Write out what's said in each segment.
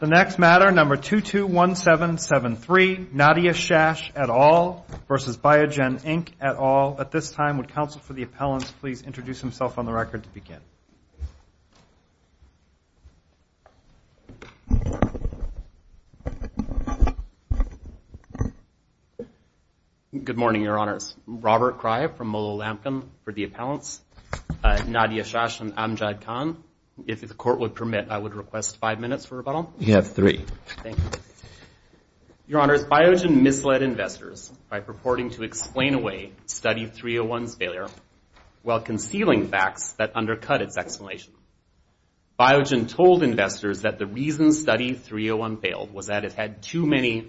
The next matter, number 221773, Nadia Shash et al. v. Biogen Inc. et al. At this time, would counsel for the appellants please introduce himself on the record to begin? Good morning, Your Honors. Robert Kreib from Molo Lampkin for the appellants. Nadia Shash and Amjad Khan. If the court would permit, I would request five minutes for rebuttal. You have three. Thank you. Your Honors, Biogen misled investors by purporting to explain away Study 301's failure while concealing facts that undercut its explanation. Biogen told investors that the reason Study 301 failed was that it had too many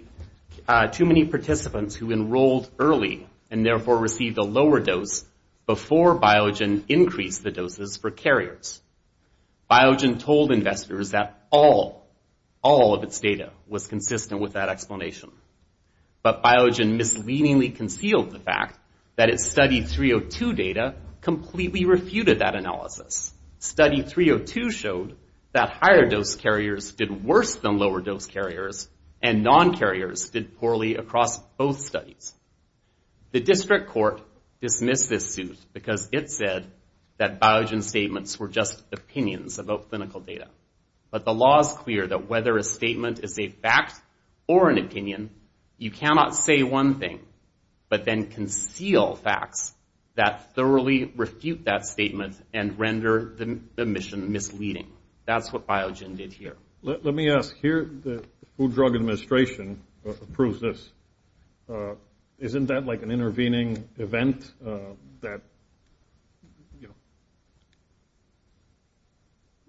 participants who enrolled early and therefore received a lower dose before Biogen increased the doses for carriers. Biogen told investors that all, all of its data was consistent with that explanation. But Biogen misleadingly concealed the fact that its Study 302 data completely refuted that analysis. Study 302 showed that higher dose carriers did worse than lower dose carriers and non-carriers did poorly across both studies. The district court dismissed this suit because it said that Biogen's statements were just opinions about clinical data. But the law is clear that whether a statement is a fact or an opinion, you cannot say one thing but then conceal facts that thoroughly refute that statement and render the mission misleading. That's what Biogen did here. Let me ask here, the Food and Drug Administration approves this. Isn't that like an intervening event that, you know?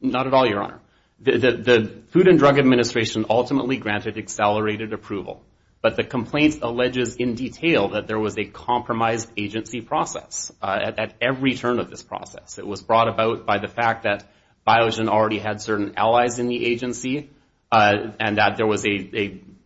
Not at all, Your Honor. The Food and Drug Administration ultimately granted accelerated approval. But the complaint alleges in detail that there was a compromised agency process at every turn of this process. It was brought about by the fact that Biogen already had certain allies in the agency and that there was an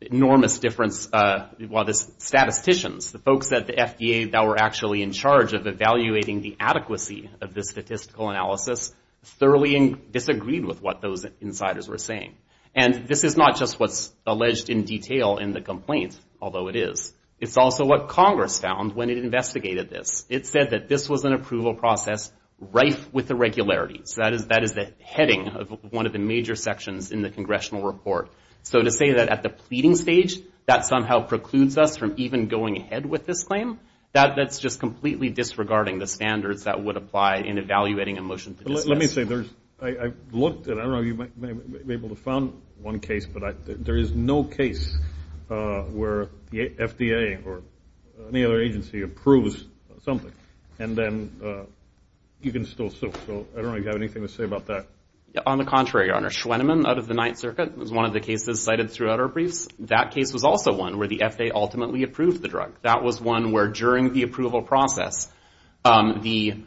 enormous difference while the statisticians, the folks at the FDA that were actually in charge of evaluating the adequacy of this statistical analysis, thoroughly disagreed with what those insiders were saying. And this is not just what's alleged in detail in the complaint, although it is. It's also what Congress found when it investigated this. It said that this was an approval process rife with irregularities. That is the heading of one of the major sections in the congressional report. So to say that at the pleading stage that somehow precludes us from even going ahead with this claim, that's just completely disregarding the standards that would apply in evaluating a motion to dismiss. Let me say, I've looked and I know you may be able to find one case, but there is no case where the FDA or any other agency approves something. And then you can still sue. So I don't know if you have anything to say about that. On the contrary, Your Honor. Schwenemann out of the Ninth Circuit was one of the cases cited throughout our briefs. That case was also one where the FDA ultimately approved the drug. That was one where during the approval process, the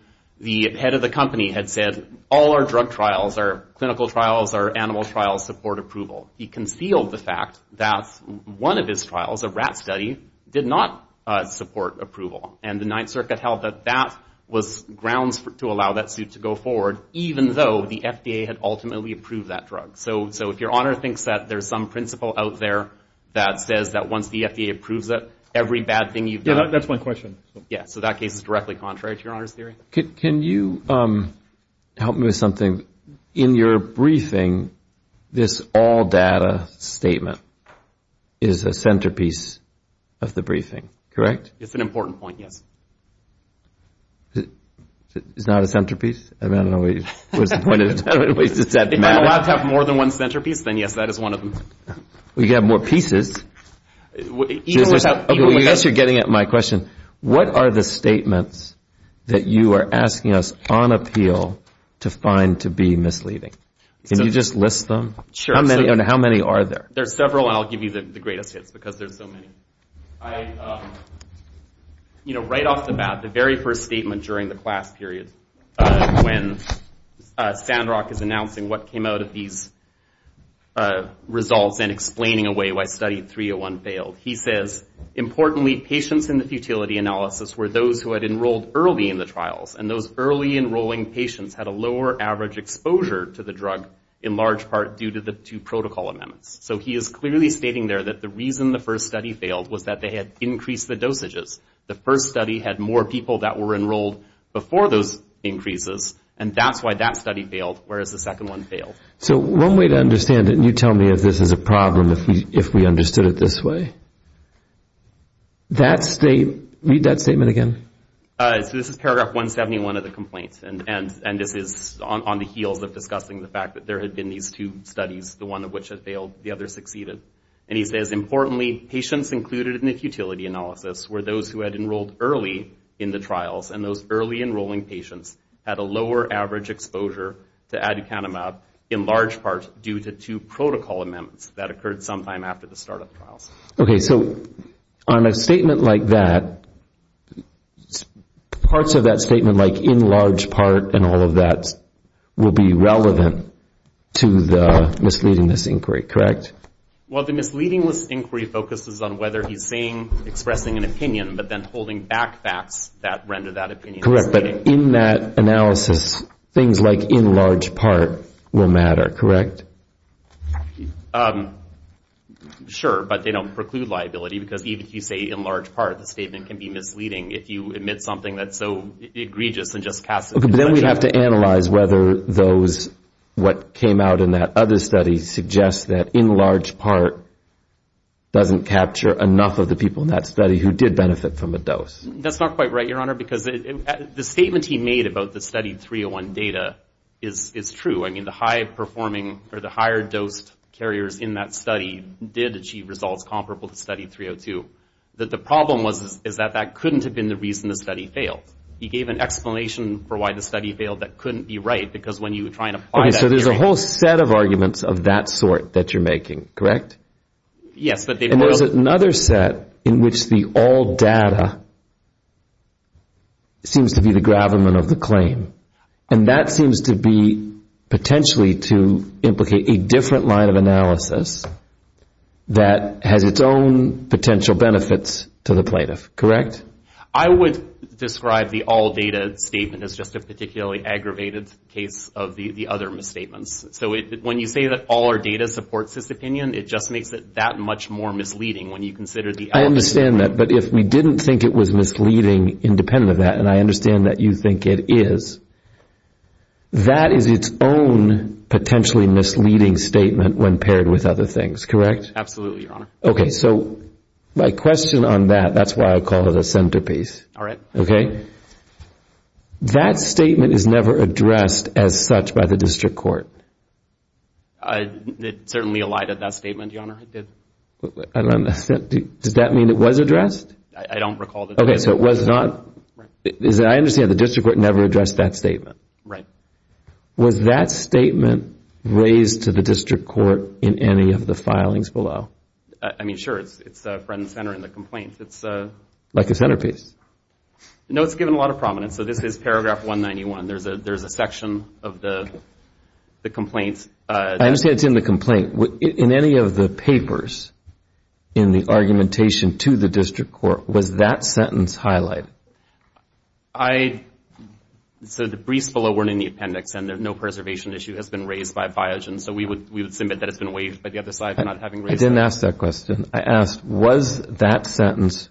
head of the company had said, all our drug trials, our clinical trials, our animal trials support approval. He concealed the fact that one of his trials, a rat study, did not support approval. And the Ninth Circuit held that that was grounds to allow that suit to go forward, even though the FDA had ultimately approved that drug. So if Your Honor thinks that there's some principle out there that says that once the FDA approves it, every bad thing you've done. Yeah, that's my question. Yeah, so that case is directly contrary to Your Honor's theory. Can you help me with something? In your briefing, this all data statement is a centerpiece of the briefing, correct? It's an important point, yes. It's not a centerpiece? If I'm allowed to have more than one centerpiece, then yes, that is one of them. Well, you could have more pieces. Okay, unless you're getting at my question, what are the statements that you are asking us on appeal to find to be misleading? Can you just list them? Sure. And how many are there? There's several, and I'll give you the greatest hits because there's so many. You know, right off the bat, the very first statement during the class period when Sandrock is announcing what came out of these results and explaining away why study 301 failed, he says, importantly, patients in the futility analysis were those who had enrolled early in the trials, and those early enrolling patients had a lower average exposure to the drug, in large part due to the two protocol amendments. So he is clearly stating there that the reason the first study failed was that they had increased the dosages. The first study had more people that were enrolled before those increases, and that's why that study failed, whereas the second one failed. So one way to understand it, and you tell me if this is a problem if we understood it this way. Read that statement again. So this is paragraph 171 of the complaint, and this is on the heels of discussing the fact that there had been these two studies, the one of which had failed, the other succeeded. And he says, importantly, patients included in the futility analysis were those who had enrolled early in the trials, and those early enrolling patients had a lower average exposure to aducanumab, in large part due to two protocol amendments that occurred sometime after the startup trials. Okay, so on a statement like that, parts of that statement, like in large part and all of that, will be relevant to the misleading-less inquiry, correct? Well, the misleading-less inquiry focuses on whether he's saying, expressing an opinion, but then holding back facts that render that opinion misleading. Correct, but in that analysis, things like in large part will matter, correct? Sure, but they don't preclude liability, because even if you say in large part, the statement can be misleading if you omit something that's so egregious and just cast it in question. Okay, but then we have to analyze whether those, what came out in that other study, suggests that in large part doesn't capture enough of the people in that study who did benefit from a dose. That's not quite right, Your Honor, because the statement he made about the study 301 data is true. I mean, the high-performing or the higher-dosed carriers in that study did achieve results comparable to study 302. The problem was that that couldn't have been the reason the study failed. He gave an explanation for why the study failed that couldn't be right, because when you try and apply that- Okay, so there's a whole set of arguments of that sort that you're making, correct? Yes, but they- And there's another set in which the all data seems to be the gravamen of the claim, and that seems to be potentially to implicate a different line of analysis that has its own potential benefits to the plaintiff, correct? I would describe the all data statement as just a particularly aggravated case of the other misstatements. So when you say that all our data supports this opinion, it just makes it that much more misleading when you consider the- I understand that, but if we didn't think it was misleading independent of that, and I understand that you think it is, that is its own potentially misleading statement when paired with other things, correct? Absolutely, Your Honor. Okay, so my question on that, that's why I call it a centerpiece. All right. Okay? That statement is never addressed as such by the district court. It certainly elided that statement, Your Honor, it did. I don't understand. Does that mean it was addressed? I don't recall that- Okay, so it was not- Right. I understand the district court never addressed that statement. Right. Was that statement raised to the district court in any of the filings below? I mean, sure. It's front and center in the complaint. It's- Like a centerpiece. No, it's given a lot of prominence. So this is paragraph 191. There's a section of the complaints- I understand it's in the complaint. In any of the papers in the argumentation to the district court, was that sentence highlighted? I- So the briefs below weren't in the appendix, and no preservation issue has been raised by FIJ. And so we would submit that it's been waived by the other side for not having raised that. I didn't ask that question. I asked, was that sentence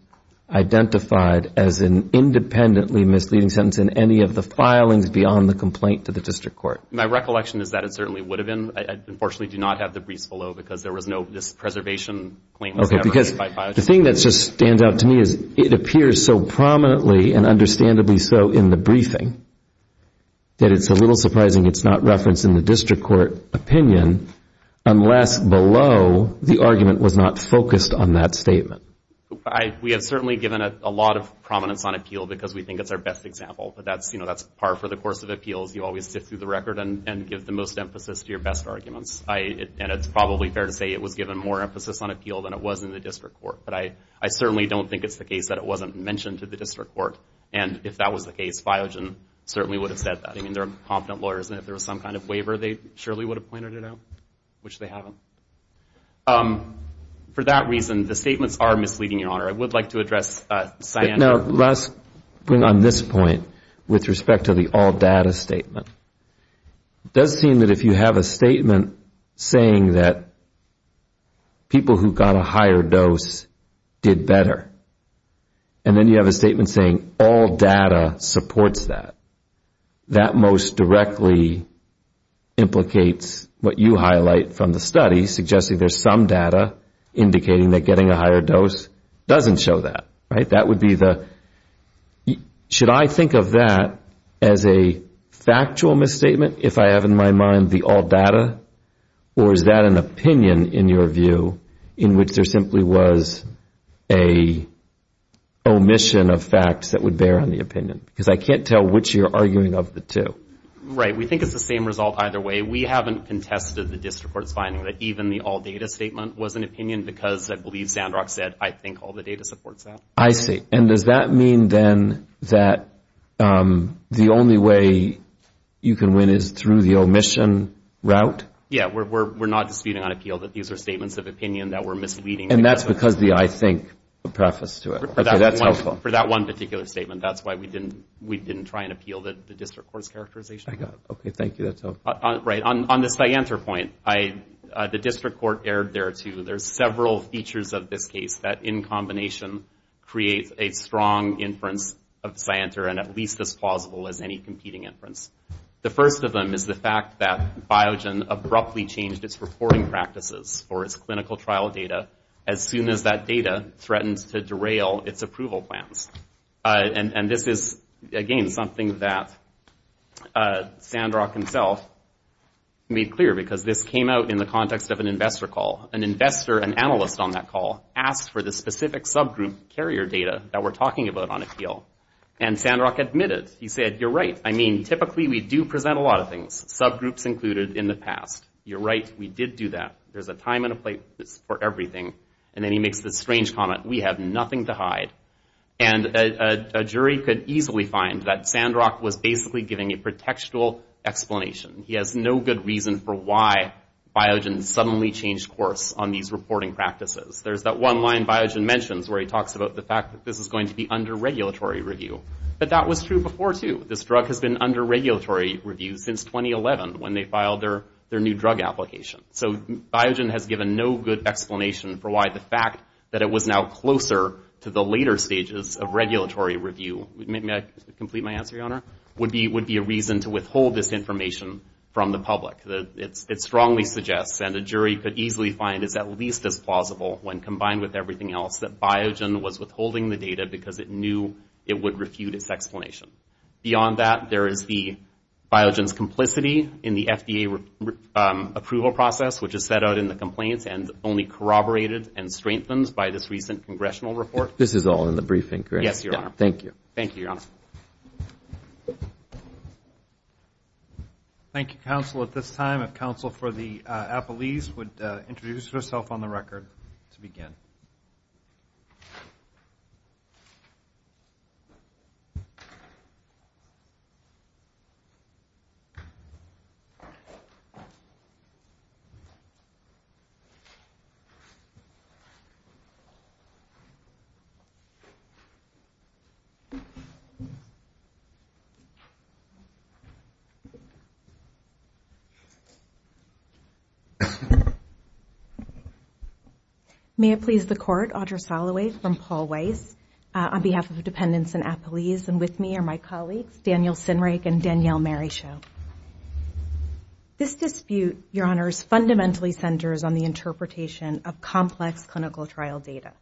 identified as an independently misleading sentence in any of the filings beyond the complaint to the district court? My recollection is that it certainly would have been. I unfortunately do not have the briefs below because there was no- this preservation claim was never raised by FIJ. The thing that just stands out to me is it appears so prominently and understandably so in the briefing that it's a little surprising it's not referenced in the district court opinion unless below the argument was not focused on that statement. We have certainly given it a lot of prominence on appeal because we think it's our best example. But that's par for the course of appeals. You always sit through the record and give the most emphasis to your best arguments. And it's probably fair to say it was given more emphasis on appeal than it was in the district court. But I certainly don't think it's the case that it wasn't mentioned to the district court. And if that was the case, FIJ certainly would have said that. I mean, they're confident lawyers. And if there was some kind of waiver, they surely would have pointed it out, which they haven't. For that reason, the statements are misleading, Your Honor. I would like to address Sian. Now, let's bring on this point with respect to the all data statement. It does seem that if you have a statement saying that people who got a higher dose did better and then you have a statement saying all data supports that, that most directly implicates what you highlight from the study, suggesting there's some data indicating that getting a higher dose doesn't show that. Right? Should I think of that as a factual misstatement if I have in my mind the all data? Or is that an opinion, in your view, in which there simply was an omission of facts that would bear on the opinion? Because I can't tell which you're arguing of the two. Right. We think it's the same result either way. We haven't contested the district court's finding that even the all data statement was an opinion because I believe Sandrock said, I think all the data supports that. I see. And does that mean then that the only way you can win is through the omission route? Yeah. We're not disputing on appeal that these are statements of opinion that were misleading. And that's because the I think preface to it. For that one particular statement, that's why we didn't try and appeal the district court's characterization. I got it. Okay. Thank you. That's helpful. Right. On the Scienter point, the district court erred there too. There's several features of this case that in combination creates a strong inference of Scienter and at least as plausible as any competing inference. The first of them is the fact that Biogen abruptly changed its reporting practices for its clinical trial data as soon as that data threatened to derail its approval plans. And this is, again, something that Sandrock himself made clear because this came out in the context of an investor call. An investor, an analyst on that call asked for the specific subgroup carrier data that we're talking about on appeal. And Sandrock admitted. He said, you're right. I mean, typically we do present a lot of things, subgroups included in the past. You're right. We did do that. There's a time and a place for everything. And then he makes this strange comment, we have nothing to hide. And a jury could easily find that Sandrock was basically giving a pretextual explanation. He has no good reason for why Biogen suddenly changed course on these reporting practices. There's that one line Biogen mentions where he talks about the fact that this is going to be under regulatory review. But that was true before too. This drug has been under regulatory review since 2011 when they filed their new drug application. So Biogen has given no good explanation for why the fact that it was now closer to the later stages of regulatory review would be a reason to withhold this information from the public. It strongly suggests, and a jury could easily find this at least as plausible when combined with everything else, that Biogen was withholding the data because it knew it would refute its explanation. Beyond that, there is the Biogen's complicity in the FDA approval process, which is set out in the complaints and only corroborated and strengthened by this recent congressional report. This is all in the briefing, correct? Yes, Your Honor. Thank you. Thank you, Your Honor. Thank you, counsel. At this time, if counsel for the appellees would introduce herself on the record to begin. May it please the Court, Audra Soloway from Paul Weiss, on behalf of the dependents and appellees, and with me are my colleagues, Daniel Sinrake and Danielle Maryshow. This dispute, Your Honors, fundamentally centers on the interpretation of complex clinical trial data.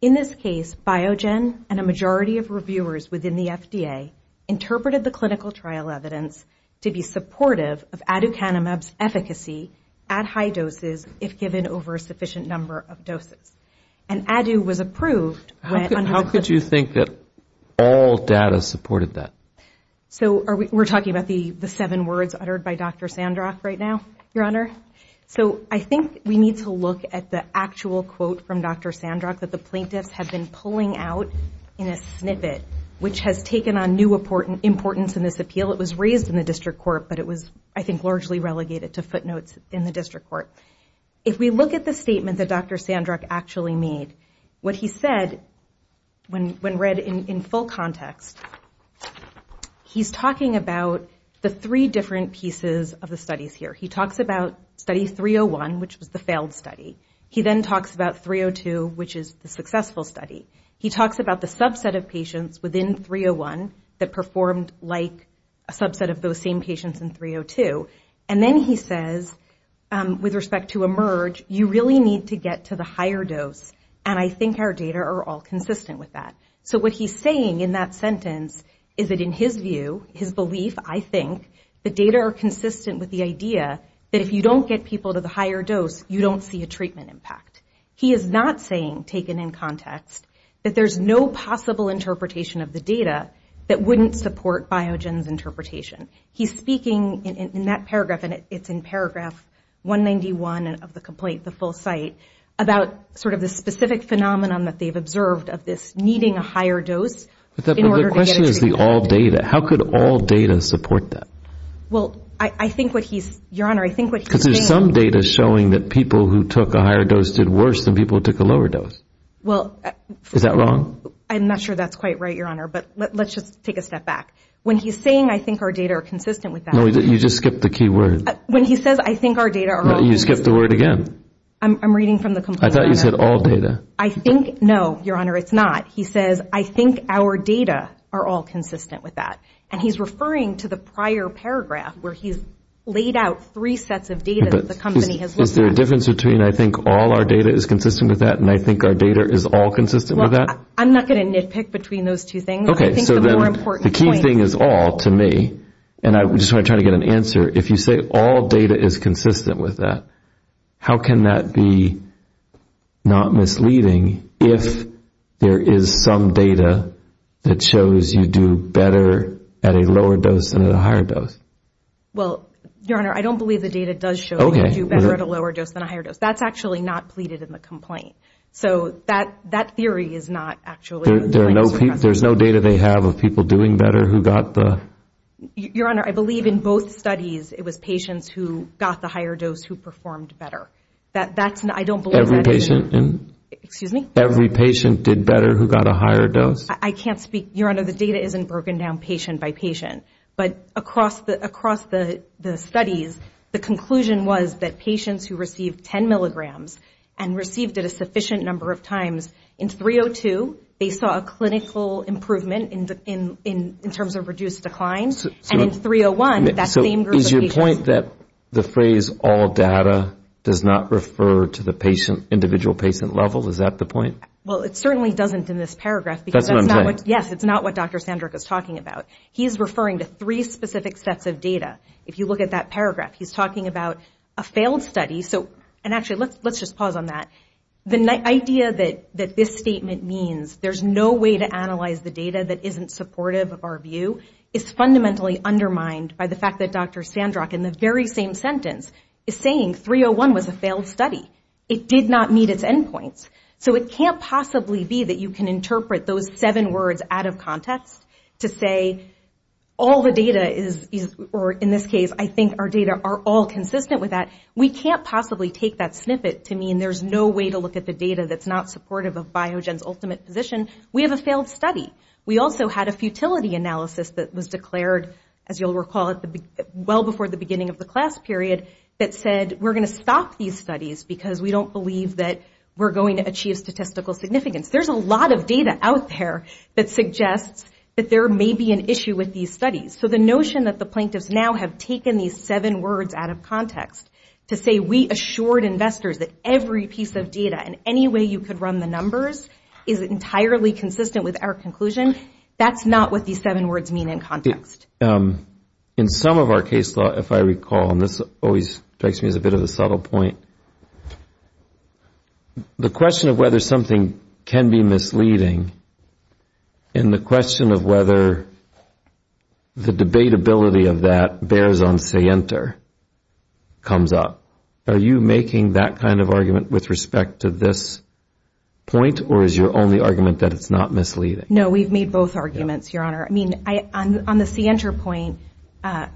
In this case, Biogen and a majority of reviewers within the FDA interpreted the clinical trial evidence to be supportive of aducanumab's efficacy at high doses if given over a sufficient number of doses. And ADU was approved. How could you think that all data supported that? So we're talking about the seven words uttered by Dr. Sandrock right now, Your Honor? So I think we need to look at the actual quote from Dr. Sandrock that the plaintiffs have been pulling out in a snippet, which has taken on new importance in this appeal. It was raised in the district court, but it was, I think, largely relegated to footnotes in the district court. If we look at the statement that Dr. Sandrock actually made, what he said, when read in full context, he's talking about the three different pieces of the studies here. He talks about study 301, which was the failed study. He then talks about 302, which is the successful study. He talks about the subset of patients within 301 that performed like a subset of those same patients in 302. And then he says, with respect to eMERGE, you really need to get to the higher dose. And I think our data are all consistent with that. So what he's saying in that sentence is that in his view, his belief, I think, the data are consistent with the idea that if you don't get people to the higher dose, you don't see a treatment impact. He is not saying, taken in context, that there's no possible interpretation of the data that wouldn't support Biogen's interpretation. He's speaking in that paragraph, and it's in paragraph 191 of the complaint, the full site, about sort of the specific phenomenon that they've observed of this needing a higher dose in order to get treatment. But the question is the all data. How could all data support that? Because there's some data showing that people who took a higher dose did worse than people who took a lower dose. Is that wrong? I'm not sure that's quite right, Your Honor, but let's just take a step back. When he's saying I think our data are consistent with that. And he's referring to the prior paragraph where he's laid out three sets of data that the company has looked at. Is there a difference between I think all our data is consistent with that and I think our data is all consistent with that? I'm not going to nitpick between those two things. The key thing is all to me, and I just want to try to get an answer. If you say all data is consistent with that, how can that be not misleading if there is some data that shows you do better at a lower dose than at a higher dose? Well, Your Honor, I don't believe the data does show you do better at a lower dose than a higher dose. That's actually not pleaded in the complaint. So that theory is not actually. There's no data they have of people doing better who got the. Your Honor, I believe in both studies it was patients who got the higher dose who performed better. That's I don't believe. Every patient did better who got a higher dose. I can't speak. Your Honor, the data isn't broken down patient by patient. But across the studies, the conclusion was that patients who received 10 milligrams and received it a sufficient number of times in 302, they saw a clinical improvement in terms of reduced decline. And in 301, that same group of patients. So is your point that the phrase all data does not refer to the individual patient level? Is that the point? Well, it certainly doesn't in this paragraph. Yes, it's not what Dr. Sandrick is talking about. He's referring to three specific sets of data. If you look at that paragraph, he's talking about a failed study. And actually, let's just pause on that. The idea that this statement means there's no way to analyze the data that isn't supportive of our view is fundamentally undermined by the fact that Dr. Sandrick in the very same sentence is saying 301 was a failed study. It did not meet its end points. So it can't possibly be that you can interpret those seven words out of context to say all the data is, or in this case, I think our data are all consistent with that. We can't possibly take that snippet to mean there's no way to look at the data that's not supportive of Biogen's ultimate position. We have a failed study. We also had a futility analysis that was declared, as you'll recall, well before the beginning of the class period that said, we're going to stop these studies because we don't believe that we're going to achieve statistical significance. There's a lot of data out there that suggests that there may be an issue with these studies. So the notion that the plaintiffs now have taken these seven words out of context to say we assured investors that every piece of data and any way you could run the numbers is entirely consistent with our conclusion, that's not what these seven words mean in context. In some of our case law, if I recall, and this always strikes me as a bit of a subtle point, the question of whether something can be misleading and the question of whether the debatability of that bears on say enter comes up. Are you making that kind of argument with respect to this point or is your only argument that it's not misleading? No, we've made both arguments, Your Honor. I mean, on the see enter point,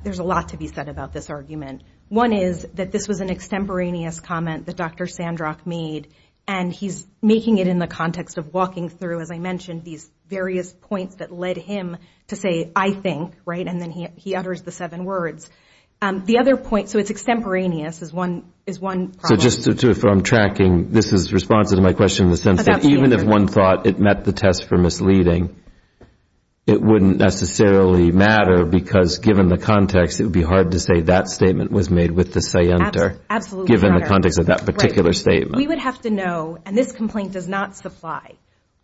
there's a lot to be said about this argument. One is that this was an extemporaneous comment that Dr. Sandrock made and he's making it in the context of walking through, as I mentioned, these various points that led him to say I think, right, and then he utters the seven words. The other point, so it's extemporaneous, is one problem. So just to, if I'm tracking, this is responsive to my question in the sense that even if one thought it met the test for misleading, it wouldn't necessarily matter, because given the context, it would be hard to say that statement was made with the say enter, given the context of that particular statement. We would have to know, and this complaint does not supply,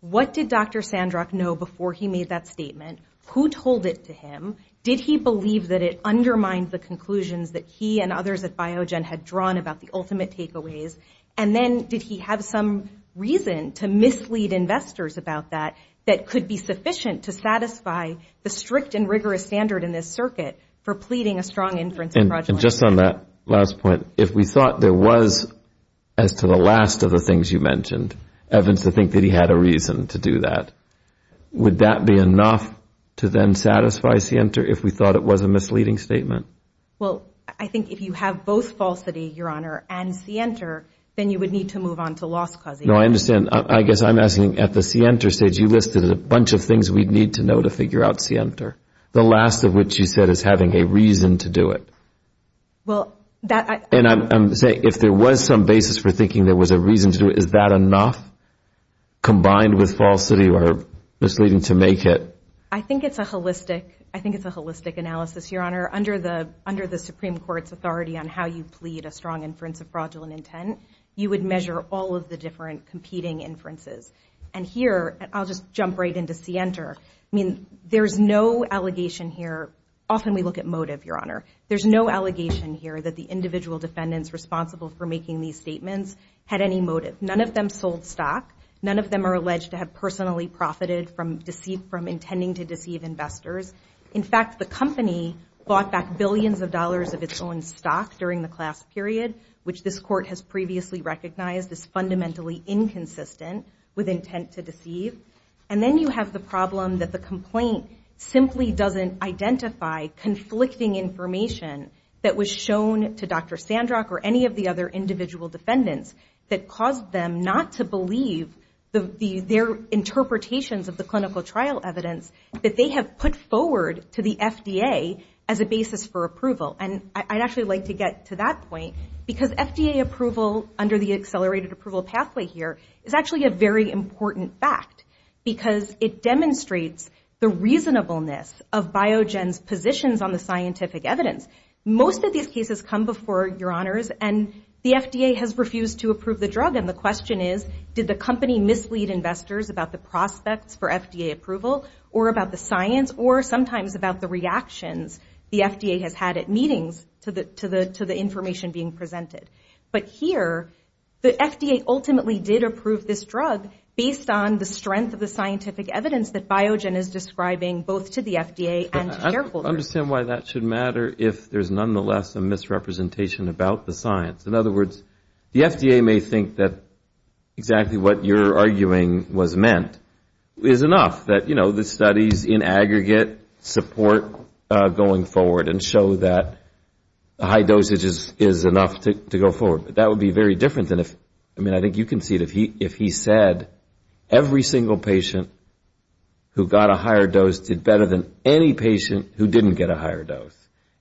what did Dr. Sandrock know before he made that statement? Who told it to him? Did he believe that it undermined the conclusions that he and others at Biogen had drawn about the ultimate takeaways? And then did he have some reason to mislead investors about that, that could be sufficient to satisfy the strict and rigorous standard in this circuit for pleading a strong inference approach? And just on that last point, if we thought there was, as to the last of the things you mentioned, Evans to think that he had a reason to do that, would he have said say enter if we thought it was a misleading statement? Well, I think if you have both falsity, Your Honor, and say enter, then you would need to move on to loss causation. No, I understand. I guess I'm asking, at the say enter stage, you listed a bunch of things we'd need to know to figure out say enter, the last of which you said is having a reason to do it. And I'm saying if there was some basis for thinking there was a reason to do it, is that enough combined with falsity or misleading to make it? I think it's a holistic analysis, Your Honor. Under the Supreme Court's authority on how you plead a strong inference of fraudulent intent, you would measure all of the different competing inferences. And here, I'll just jump right into say enter. I mean, there's no allegation here. Often we look at motive, Your Honor. There's no allegation here that the individual defendants responsible for making these statements had any motive. None of them sold stock. None of them are alleged to have personally profited from intending to deceive investors. In fact, the company bought back billions of dollars of its own stock during the class period, which this court has previously recognized as fundamentally inconsistent with intent to deceive. And then you have the problem that the complaint simply doesn't identify conflicting information that was shown to Dr. Sandrock or any of the other individual defendants that caused them not to believe their interpretations of the clinical trial evidence that they have put forward to the FDA as a basis for approval. And I'd actually like to get to that point because FDA approval under the accelerated approval pathway here is actually a very important fact because it demonstrates the reasonableness of Biogen's positions on the scientific evidence. Most of these cases come before, Your Honors, and the FDA has refused to approve the drug. And the question is, did the company mislead investors about the prospects for FDA approval or about the science or sometimes about the reactions the FDA has had at meetings to the information being presented? But here, the FDA ultimately did approve this drug based on the strength of the scientific evidence that Biogen is describing both to the FDA and to shareholders. I don't understand why that should matter if there's nonetheless a misrepresentation about the science. In other words, the FDA may think that exactly what you're arguing was meant is enough, that the studies in aggregate support going forward and show that high dosage is enough to go forward. But that would be very different than if, I mean, I think you can see it, if he said every single patient who got a higher dose did better than any patient who didn't get a higher dose.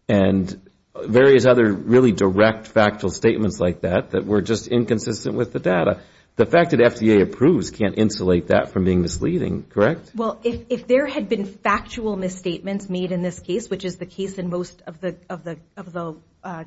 And various other really direct factual statements like that that were just inconsistent with the data. The fact that FDA approves can't insulate that from being misleading, correct? Well, if there had been factual misstatements made in this case, which is the case in most of the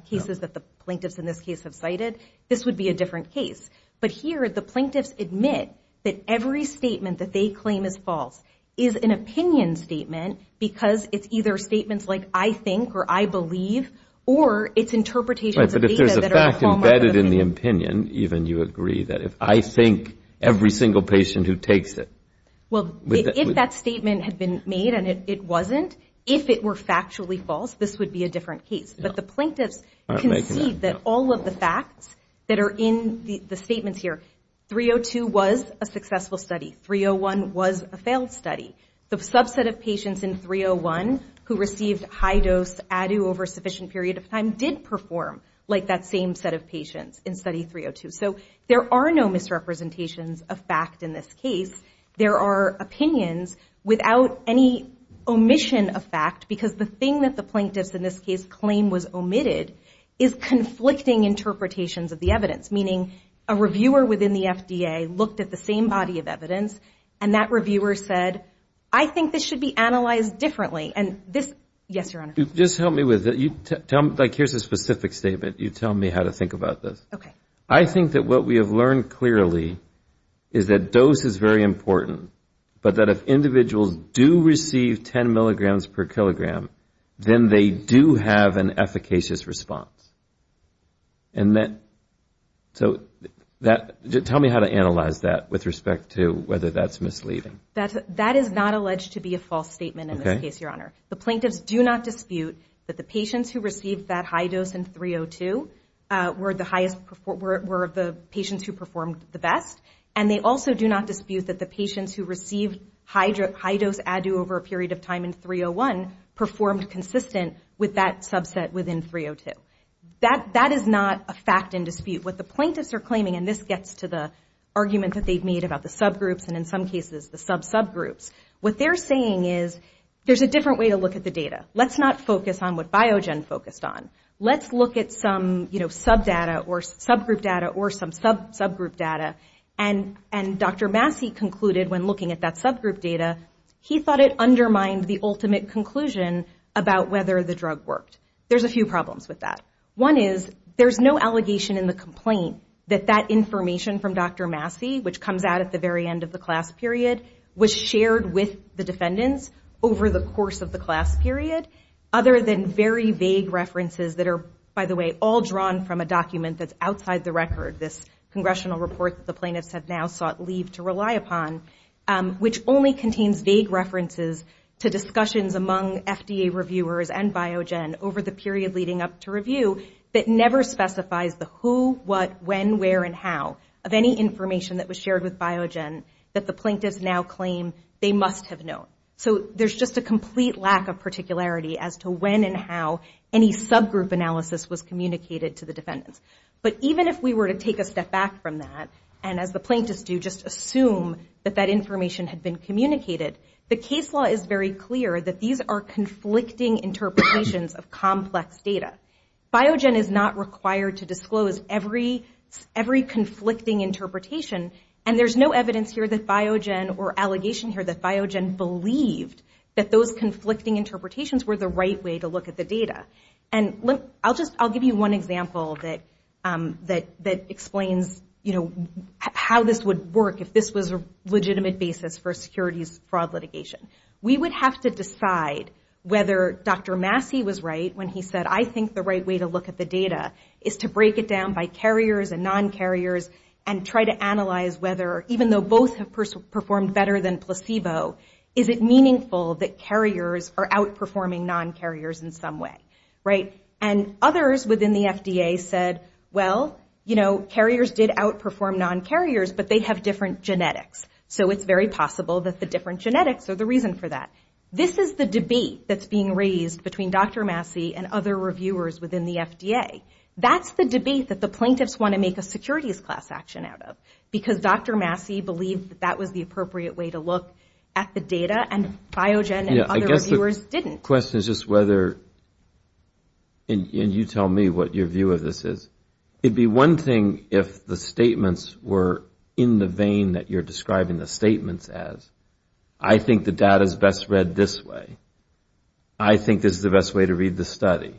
cases that the plaintiffs in this case have cited, this would be a different case. But here, the plaintiffs admit that every statement that they claim is false is an opinion statement because it's either statements like, I think or I believe, or it's interpretations of data that are homomorphous. And embedded in the opinion, even, you agree that if I think every single patient who takes it. Well, if that statement had been made and it wasn't, if it were factually false, this would be a different case. But the plaintiffs concede that all of the facts that are in the statements here, 302 was a successful study. 301 was a failed study. The subset of patients in 301 who received high dose ADU over a sufficient period of time did perform like that same set of patients in study 302. So there are no misrepresentations of fact in this case. There are opinions without any omission of fact because the thing that the plaintiffs in this case claim was omitted is conflicting interpretations of the evidence. Meaning a reviewer within the FDA looked at the same body of evidence and that reviewer said, I think this should be analyzed differently. And this, yes, Your Honor. Just help me with it. Like here's a specific statement. You tell me how to think about this. I think that what we have learned clearly is that dose is very important, but that if individuals do receive 10 milligrams per kilogram, then they do have an efficacious response. So tell me how to analyze that with respect to whether that's misleading. That is not alleged to be a false statement in this case, Your Honor. The plaintiffs do not dispute that the patients who received that high dose in 302 were the highest, were the patients who performed the best. And they also do not dispute that the patients who received high dose ADU over a period of time in 301 performed consistent with that subset within 302. That is not a fact in dispute. What the plaintiffs are claiming, and this gets to the argument that they've made about the subgroups and in some cases the sub-subgroups, what they're saying is there's a different way to look at the data. Let's not focus on what Biogen focused on. Let's look at some subgroup data or some sub-subgroup data. And Dr. Massey concluded when looking at that subgroup data, he thought it undermined the ultimate conclusion about whether the drug worked. There's a few problems with that. One is there's no allegation in the complaint that that information from Dr. Massey, which comes out at the very end of the class period, was shared with the defendants over the course of the class period, other than very vague references that are, by the way, all drawn from a document that's outside the record, this congressional report that the plaintiffs have now sought leave to rely upon, which only contains vague references to discussions among FDA reviewers and Biogen over the period leading up to review. That never specifies the who, what, when, where, and how of any information that was shared with Biogen that the plaintiffs now claim they must have known. So there's just a complete lack of particularity as to when and how any subgroup analysis was communicated to the defendants. But even if we were to take a step back from that, and as the plaintiffs do, just assume that that information had been communicated, the case law is very clear that these are conflicting interpretations of complex data. Biogen is not required to disclose every conflicting interpretation, and there's no evidence here that Biogen or allegation here that Biogen believed that those conflicting interpretations were the right way to look at the data. I'll give you one example that explains how this would work if this was a legitimate basis for a securities fraud litigation. We would have to decide whether Dr. Massey was right when he said, I think the right way to look at the data is to break it down by carriers and non-carriers and try to analyze whether, even though both have performed better than placebo, is it meaningful that carriers are outperforming non-carriers in some way, right? And others within the FDA said, well, you know, carriers did outperform non-carriers, but they have different genetics, so it's very possible that the different genetics are the reason for that. This is the debate that's being raised between Dr. Massey and other reviewers within the FDA. That's the debate that the plaintiffs want to make a securities class action out of, because Dr. Massey believed that that was the appropriate way to look at the data, and Biogen and other reviewers didn't. I guess the question is just whether, and you tell me what your view of this is, it would be one thing if the statements were in the vein that you're describing the statements as. I think the data is best read this way. I think this is the best way to read the study.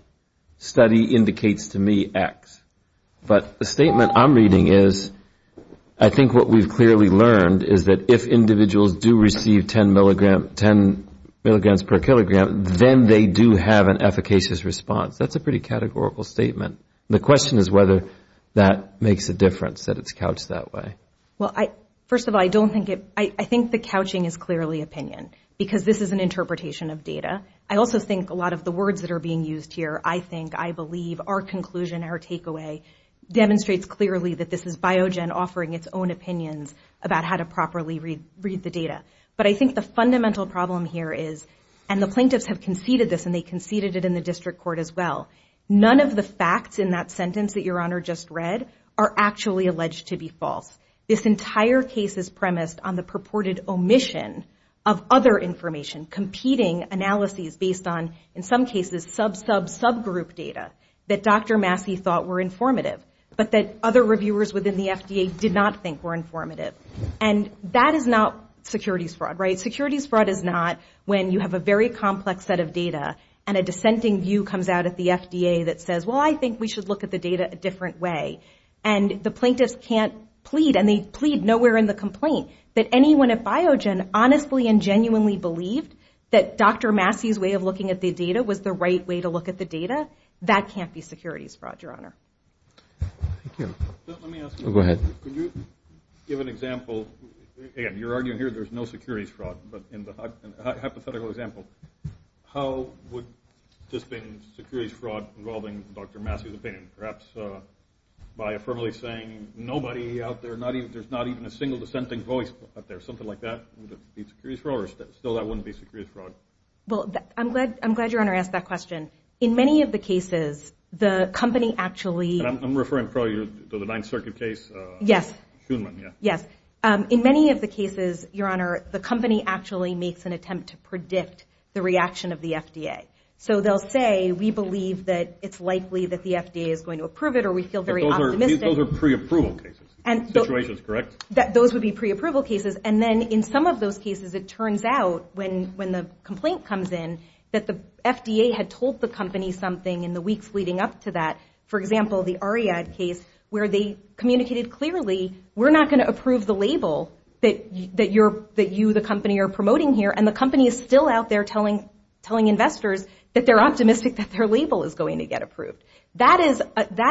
Study indicates to me X. But the statement I'm reading is, I think what we've clearly learned is that if individuals do receive 10 milligrams per kilogram, then they do have an efficacious response. That's a pretty categorical statement. The question is whether that makes a difference, that it's couched that way. Well, first of all, I think the couching is clearly opinion, because this is an interpretation of data. I also think a lot of the words that are being used here, I think, I believe, our conclusion, our takeaway, demonstrates clearly that this is Biogen offering its own opinions about how to properly read the data. But I think the fundamental problem here is, and the plaintiffs have conceded this, and they conceded it in the district court as well, none of the facts in that sentence that your Honor just read are actually alleged to be false. This entire case is premised on the purported omission of other information, competing analyses based on, in some cases, sub-sub-subgroup data that Dr. Massey thought were informative, but that other reviewers within the FDA did not think were informative. And that is not securities fraud, right? Securities fraud is not when you have a very complex set of data, and a dissenting view comes out at the FDA that says, well, I think we should look at the data a different way. And the plaintiffs can't plead, and they plead nowhere in the complaint that anyone at Biogen honestly and genuinely believed that Dr. Massey's way of looking at the data was the right way to look at the data. That can't be securities fraud, your Honor. Let me ask you, can you give an example, again, you're arguing here there's no securities fraud, but in the hypothetical example, how would this be securities fraud involving Dr. Massey's opinion? Perhaps by affirmatively saying, nobody out there, there's not even a single dissenting voice out there, something like that would be securities fraud, or still that wouldn't be securities fraud? Well, I'm glad your Honor asked that question. In many of the cases, the company actually... I'm referring probably to the Ninth Circuit case. In many of the cases, your Honor, the company actually makes an attempt to predict the reaction of the FDA. So they'll say, we believe that it's likely that the FDA is going to approve it, or we feel very optimistic. Those are pre-approval cases, situations, correct? Those would be pre-approval cases, and then in some of those cases, it turns out, when the complaint comes in, that the FDA had told the company something in the weeks leading up to that. For example, the Ariad case, where they communicated clearly, we're not going to approve the label that you, the company, are promoting here, and the company is still out there telling investors that they're optimistic that their label is going to get approved. That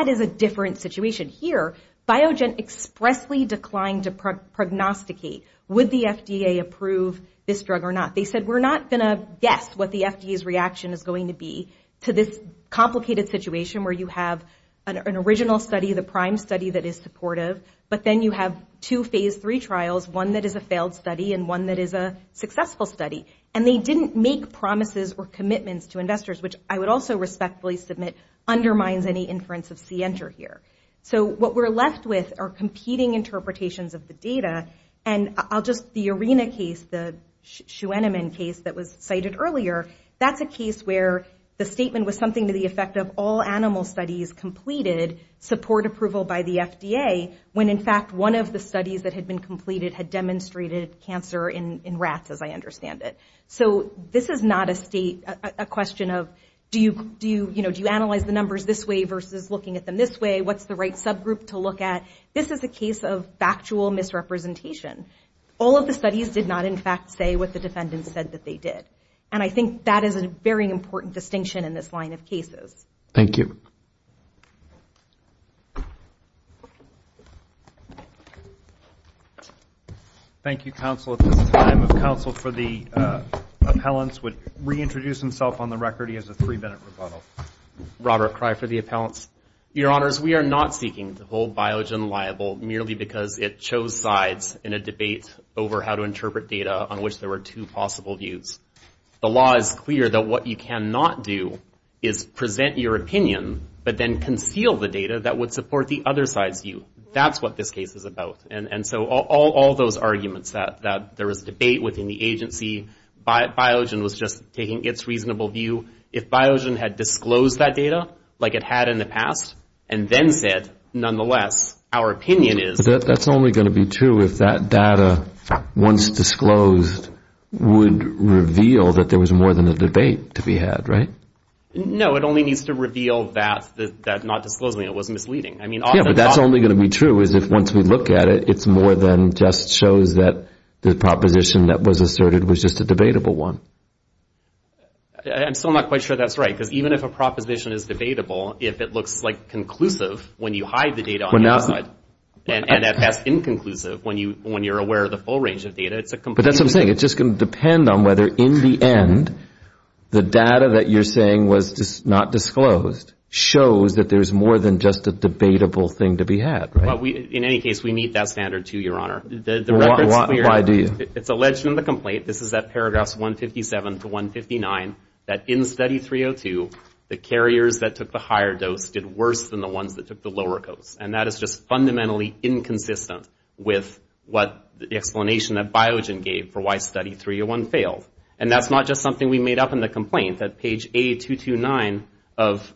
is a different situation. Here, Biogen expressly declined to prognosticate, would the FDA approve this drug or not? They said, we're not going to guess what the FDA's reaction is going to be to this complicated situation where you have an original study, the prime study that is supportive, but then you have two phase three trials, one that is a failed study and one that is a successful study. And they didn't make promises or commitments to investors, which I would also respectfully submit undermines any inference of C-enter here. So what we're left with are competing interpretations of the data, and I'll just, the Arena case, the Schuenemann case that was cited earlier, that's a case where the statement was something to the effect of all animal studies completed, support approval by the FDA, when in fact one of the studies that had been completed had demonstrated cancer in rats, as I understand it. So this is not a state, a question of, do you, you know, do you analyze the numbers this way versus looking at them this way? What's the right subgroup to look at? This is a case of factual misrepresentation. All of the studies did not in fact say what the defendants said that they did. And I think that is a very important distinction in this line of cases. Thank you. Thank you, counsel. At this time, counsel for the appellants would reintroduce himself on the record. He has a three minute rebuttal. Robert cry for the appellants. Your honors, we are not seeking to hold Biogen liable merely because it chose sides in a debate over how to interpret data on which there were two possible views. The law is clear that what you cannot do is present your opinion, but then conceal the data that would support the other side's view. That's what this case is about. And so all those arguments that there was debate within the agency, Biogen was just taking its reasonable view, if Biogen had disclosed that data like it had in the past and then said, nonetheless, our opinion is. That's only going to be true if that data once disclosed would reveal that there was more than a debate to be had, right? No, it only needs to reveal that that not disclosing it was misleading. I mean, that's only going to be true is if once we look at it, it's more than just shows that the proposition that was asserted was just a debatable one. I'm still not quite sure that's right, because even if a proposition is debatable, if it looks like conclusive when you hide the full range of data, it's a completely different thing. But that's what I'm saying. It's just going to depend on whether in the end, the data that you're saying was not disclosed, shows that there's more than just a debatable thing to be had, right? In any case, we meet that standard, too, Your Honor. Why do you? It's alleged in the complaint, this is at paragraphs 157 to 159, that in Study 302, the carriers that took the higher dose did worse than the ones that took the lower dose. And that is just fundamentally inconsistent with the explanation that Biogen gave for why Study 301 failed. And that's not just something we made up in the complaint. At page 8229 of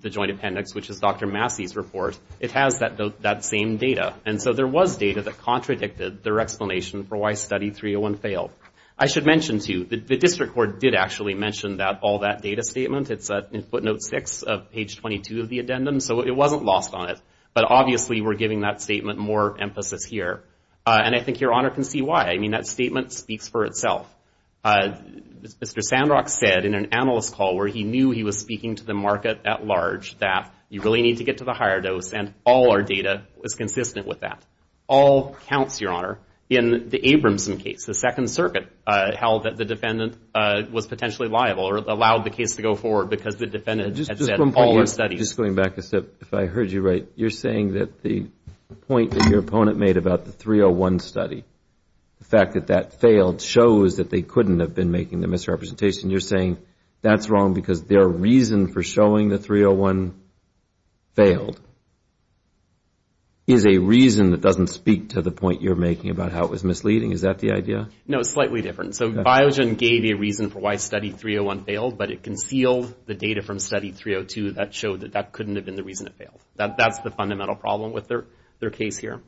the Joint Appendix, which is Dr. Massey's report, it has that same data. And so there was data that contradicted their explanation for why Study 301 failed. I should mention, too, the District Court did actually mention all that data statement. It's in footnote 6 of page 22 of the addendum, so it wasn't lost on it. But obviously, we're giving that statement more emphasis here. And I think Your Honor can see why. I mean, that statement speaks for itself. Mr. Sandrock said in an analyst call where he knew he was speaking to the market at large, that you really need to get to the higher dose, and all our data was consistent with that. All counts, Your Honor, in the Abramson case, the Second Circuit held that the defendant was potentially liable or allowed the case to go forward because the defendant had said all the studies. Just going back a step, if I heard you right, you're saying that the point that your opponent made about the 301 study, the fact that that failed shows that they couldn't have been making the misrepresentation. You're saying that's wrong because their reason for showing the 301 failed is a reason that doesn't speak to the point you're making about how it was misleading. Is that the idea? No, it's slightly different. So Biogen gave a reason for why Study 301 failed, but it concealed the data from Study 302 that showed that that couldn't have been the reason it failed. That's the fundamental problem with their case here.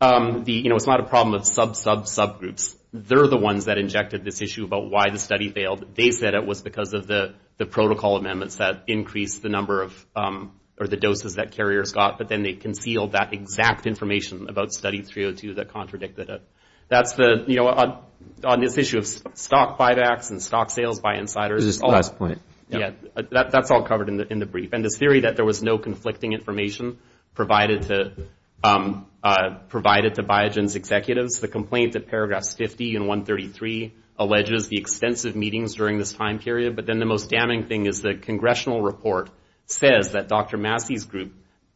It's not a problem of sub-sub-subgroups. They're the ones that injected this issue about why the study failed. They said it was because of the protocol amendments that increased the number of, or the doses that carriers got, but then they concealed that exact information about Study 302 that contradicted it. On this issue of stock buybacks and stock sales by insiders... That's all covered in the brief, and the theory that there was no conflicting information provided to Biogen's executives. The complaint at paragraphs 50 and 133 alleges the extensive meetings during this time period, but then the most damning thing is the congressional report says that Dr. Massey's group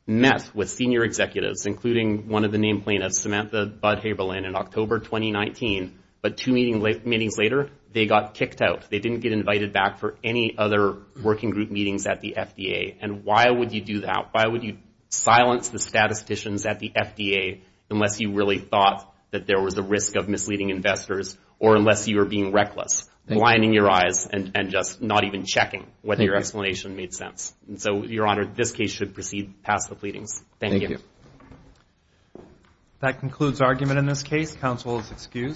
met with senior executives, including one of the name plaintiffs, Samantha Budd-Haberlin, in October 2019, but two meetings later, they got kicked out. They didn't get invited back for any other working group meetings at the FDA, and why would you do that? Why would you silence the statisticians at the FDA unless you really thought that there was a risk of misleading investors, or unless you were being reckless, blinding your eyes and just not even checking whether your explanation made sense? So, Your Honor, this case should proceed past the pleadings. Thank you.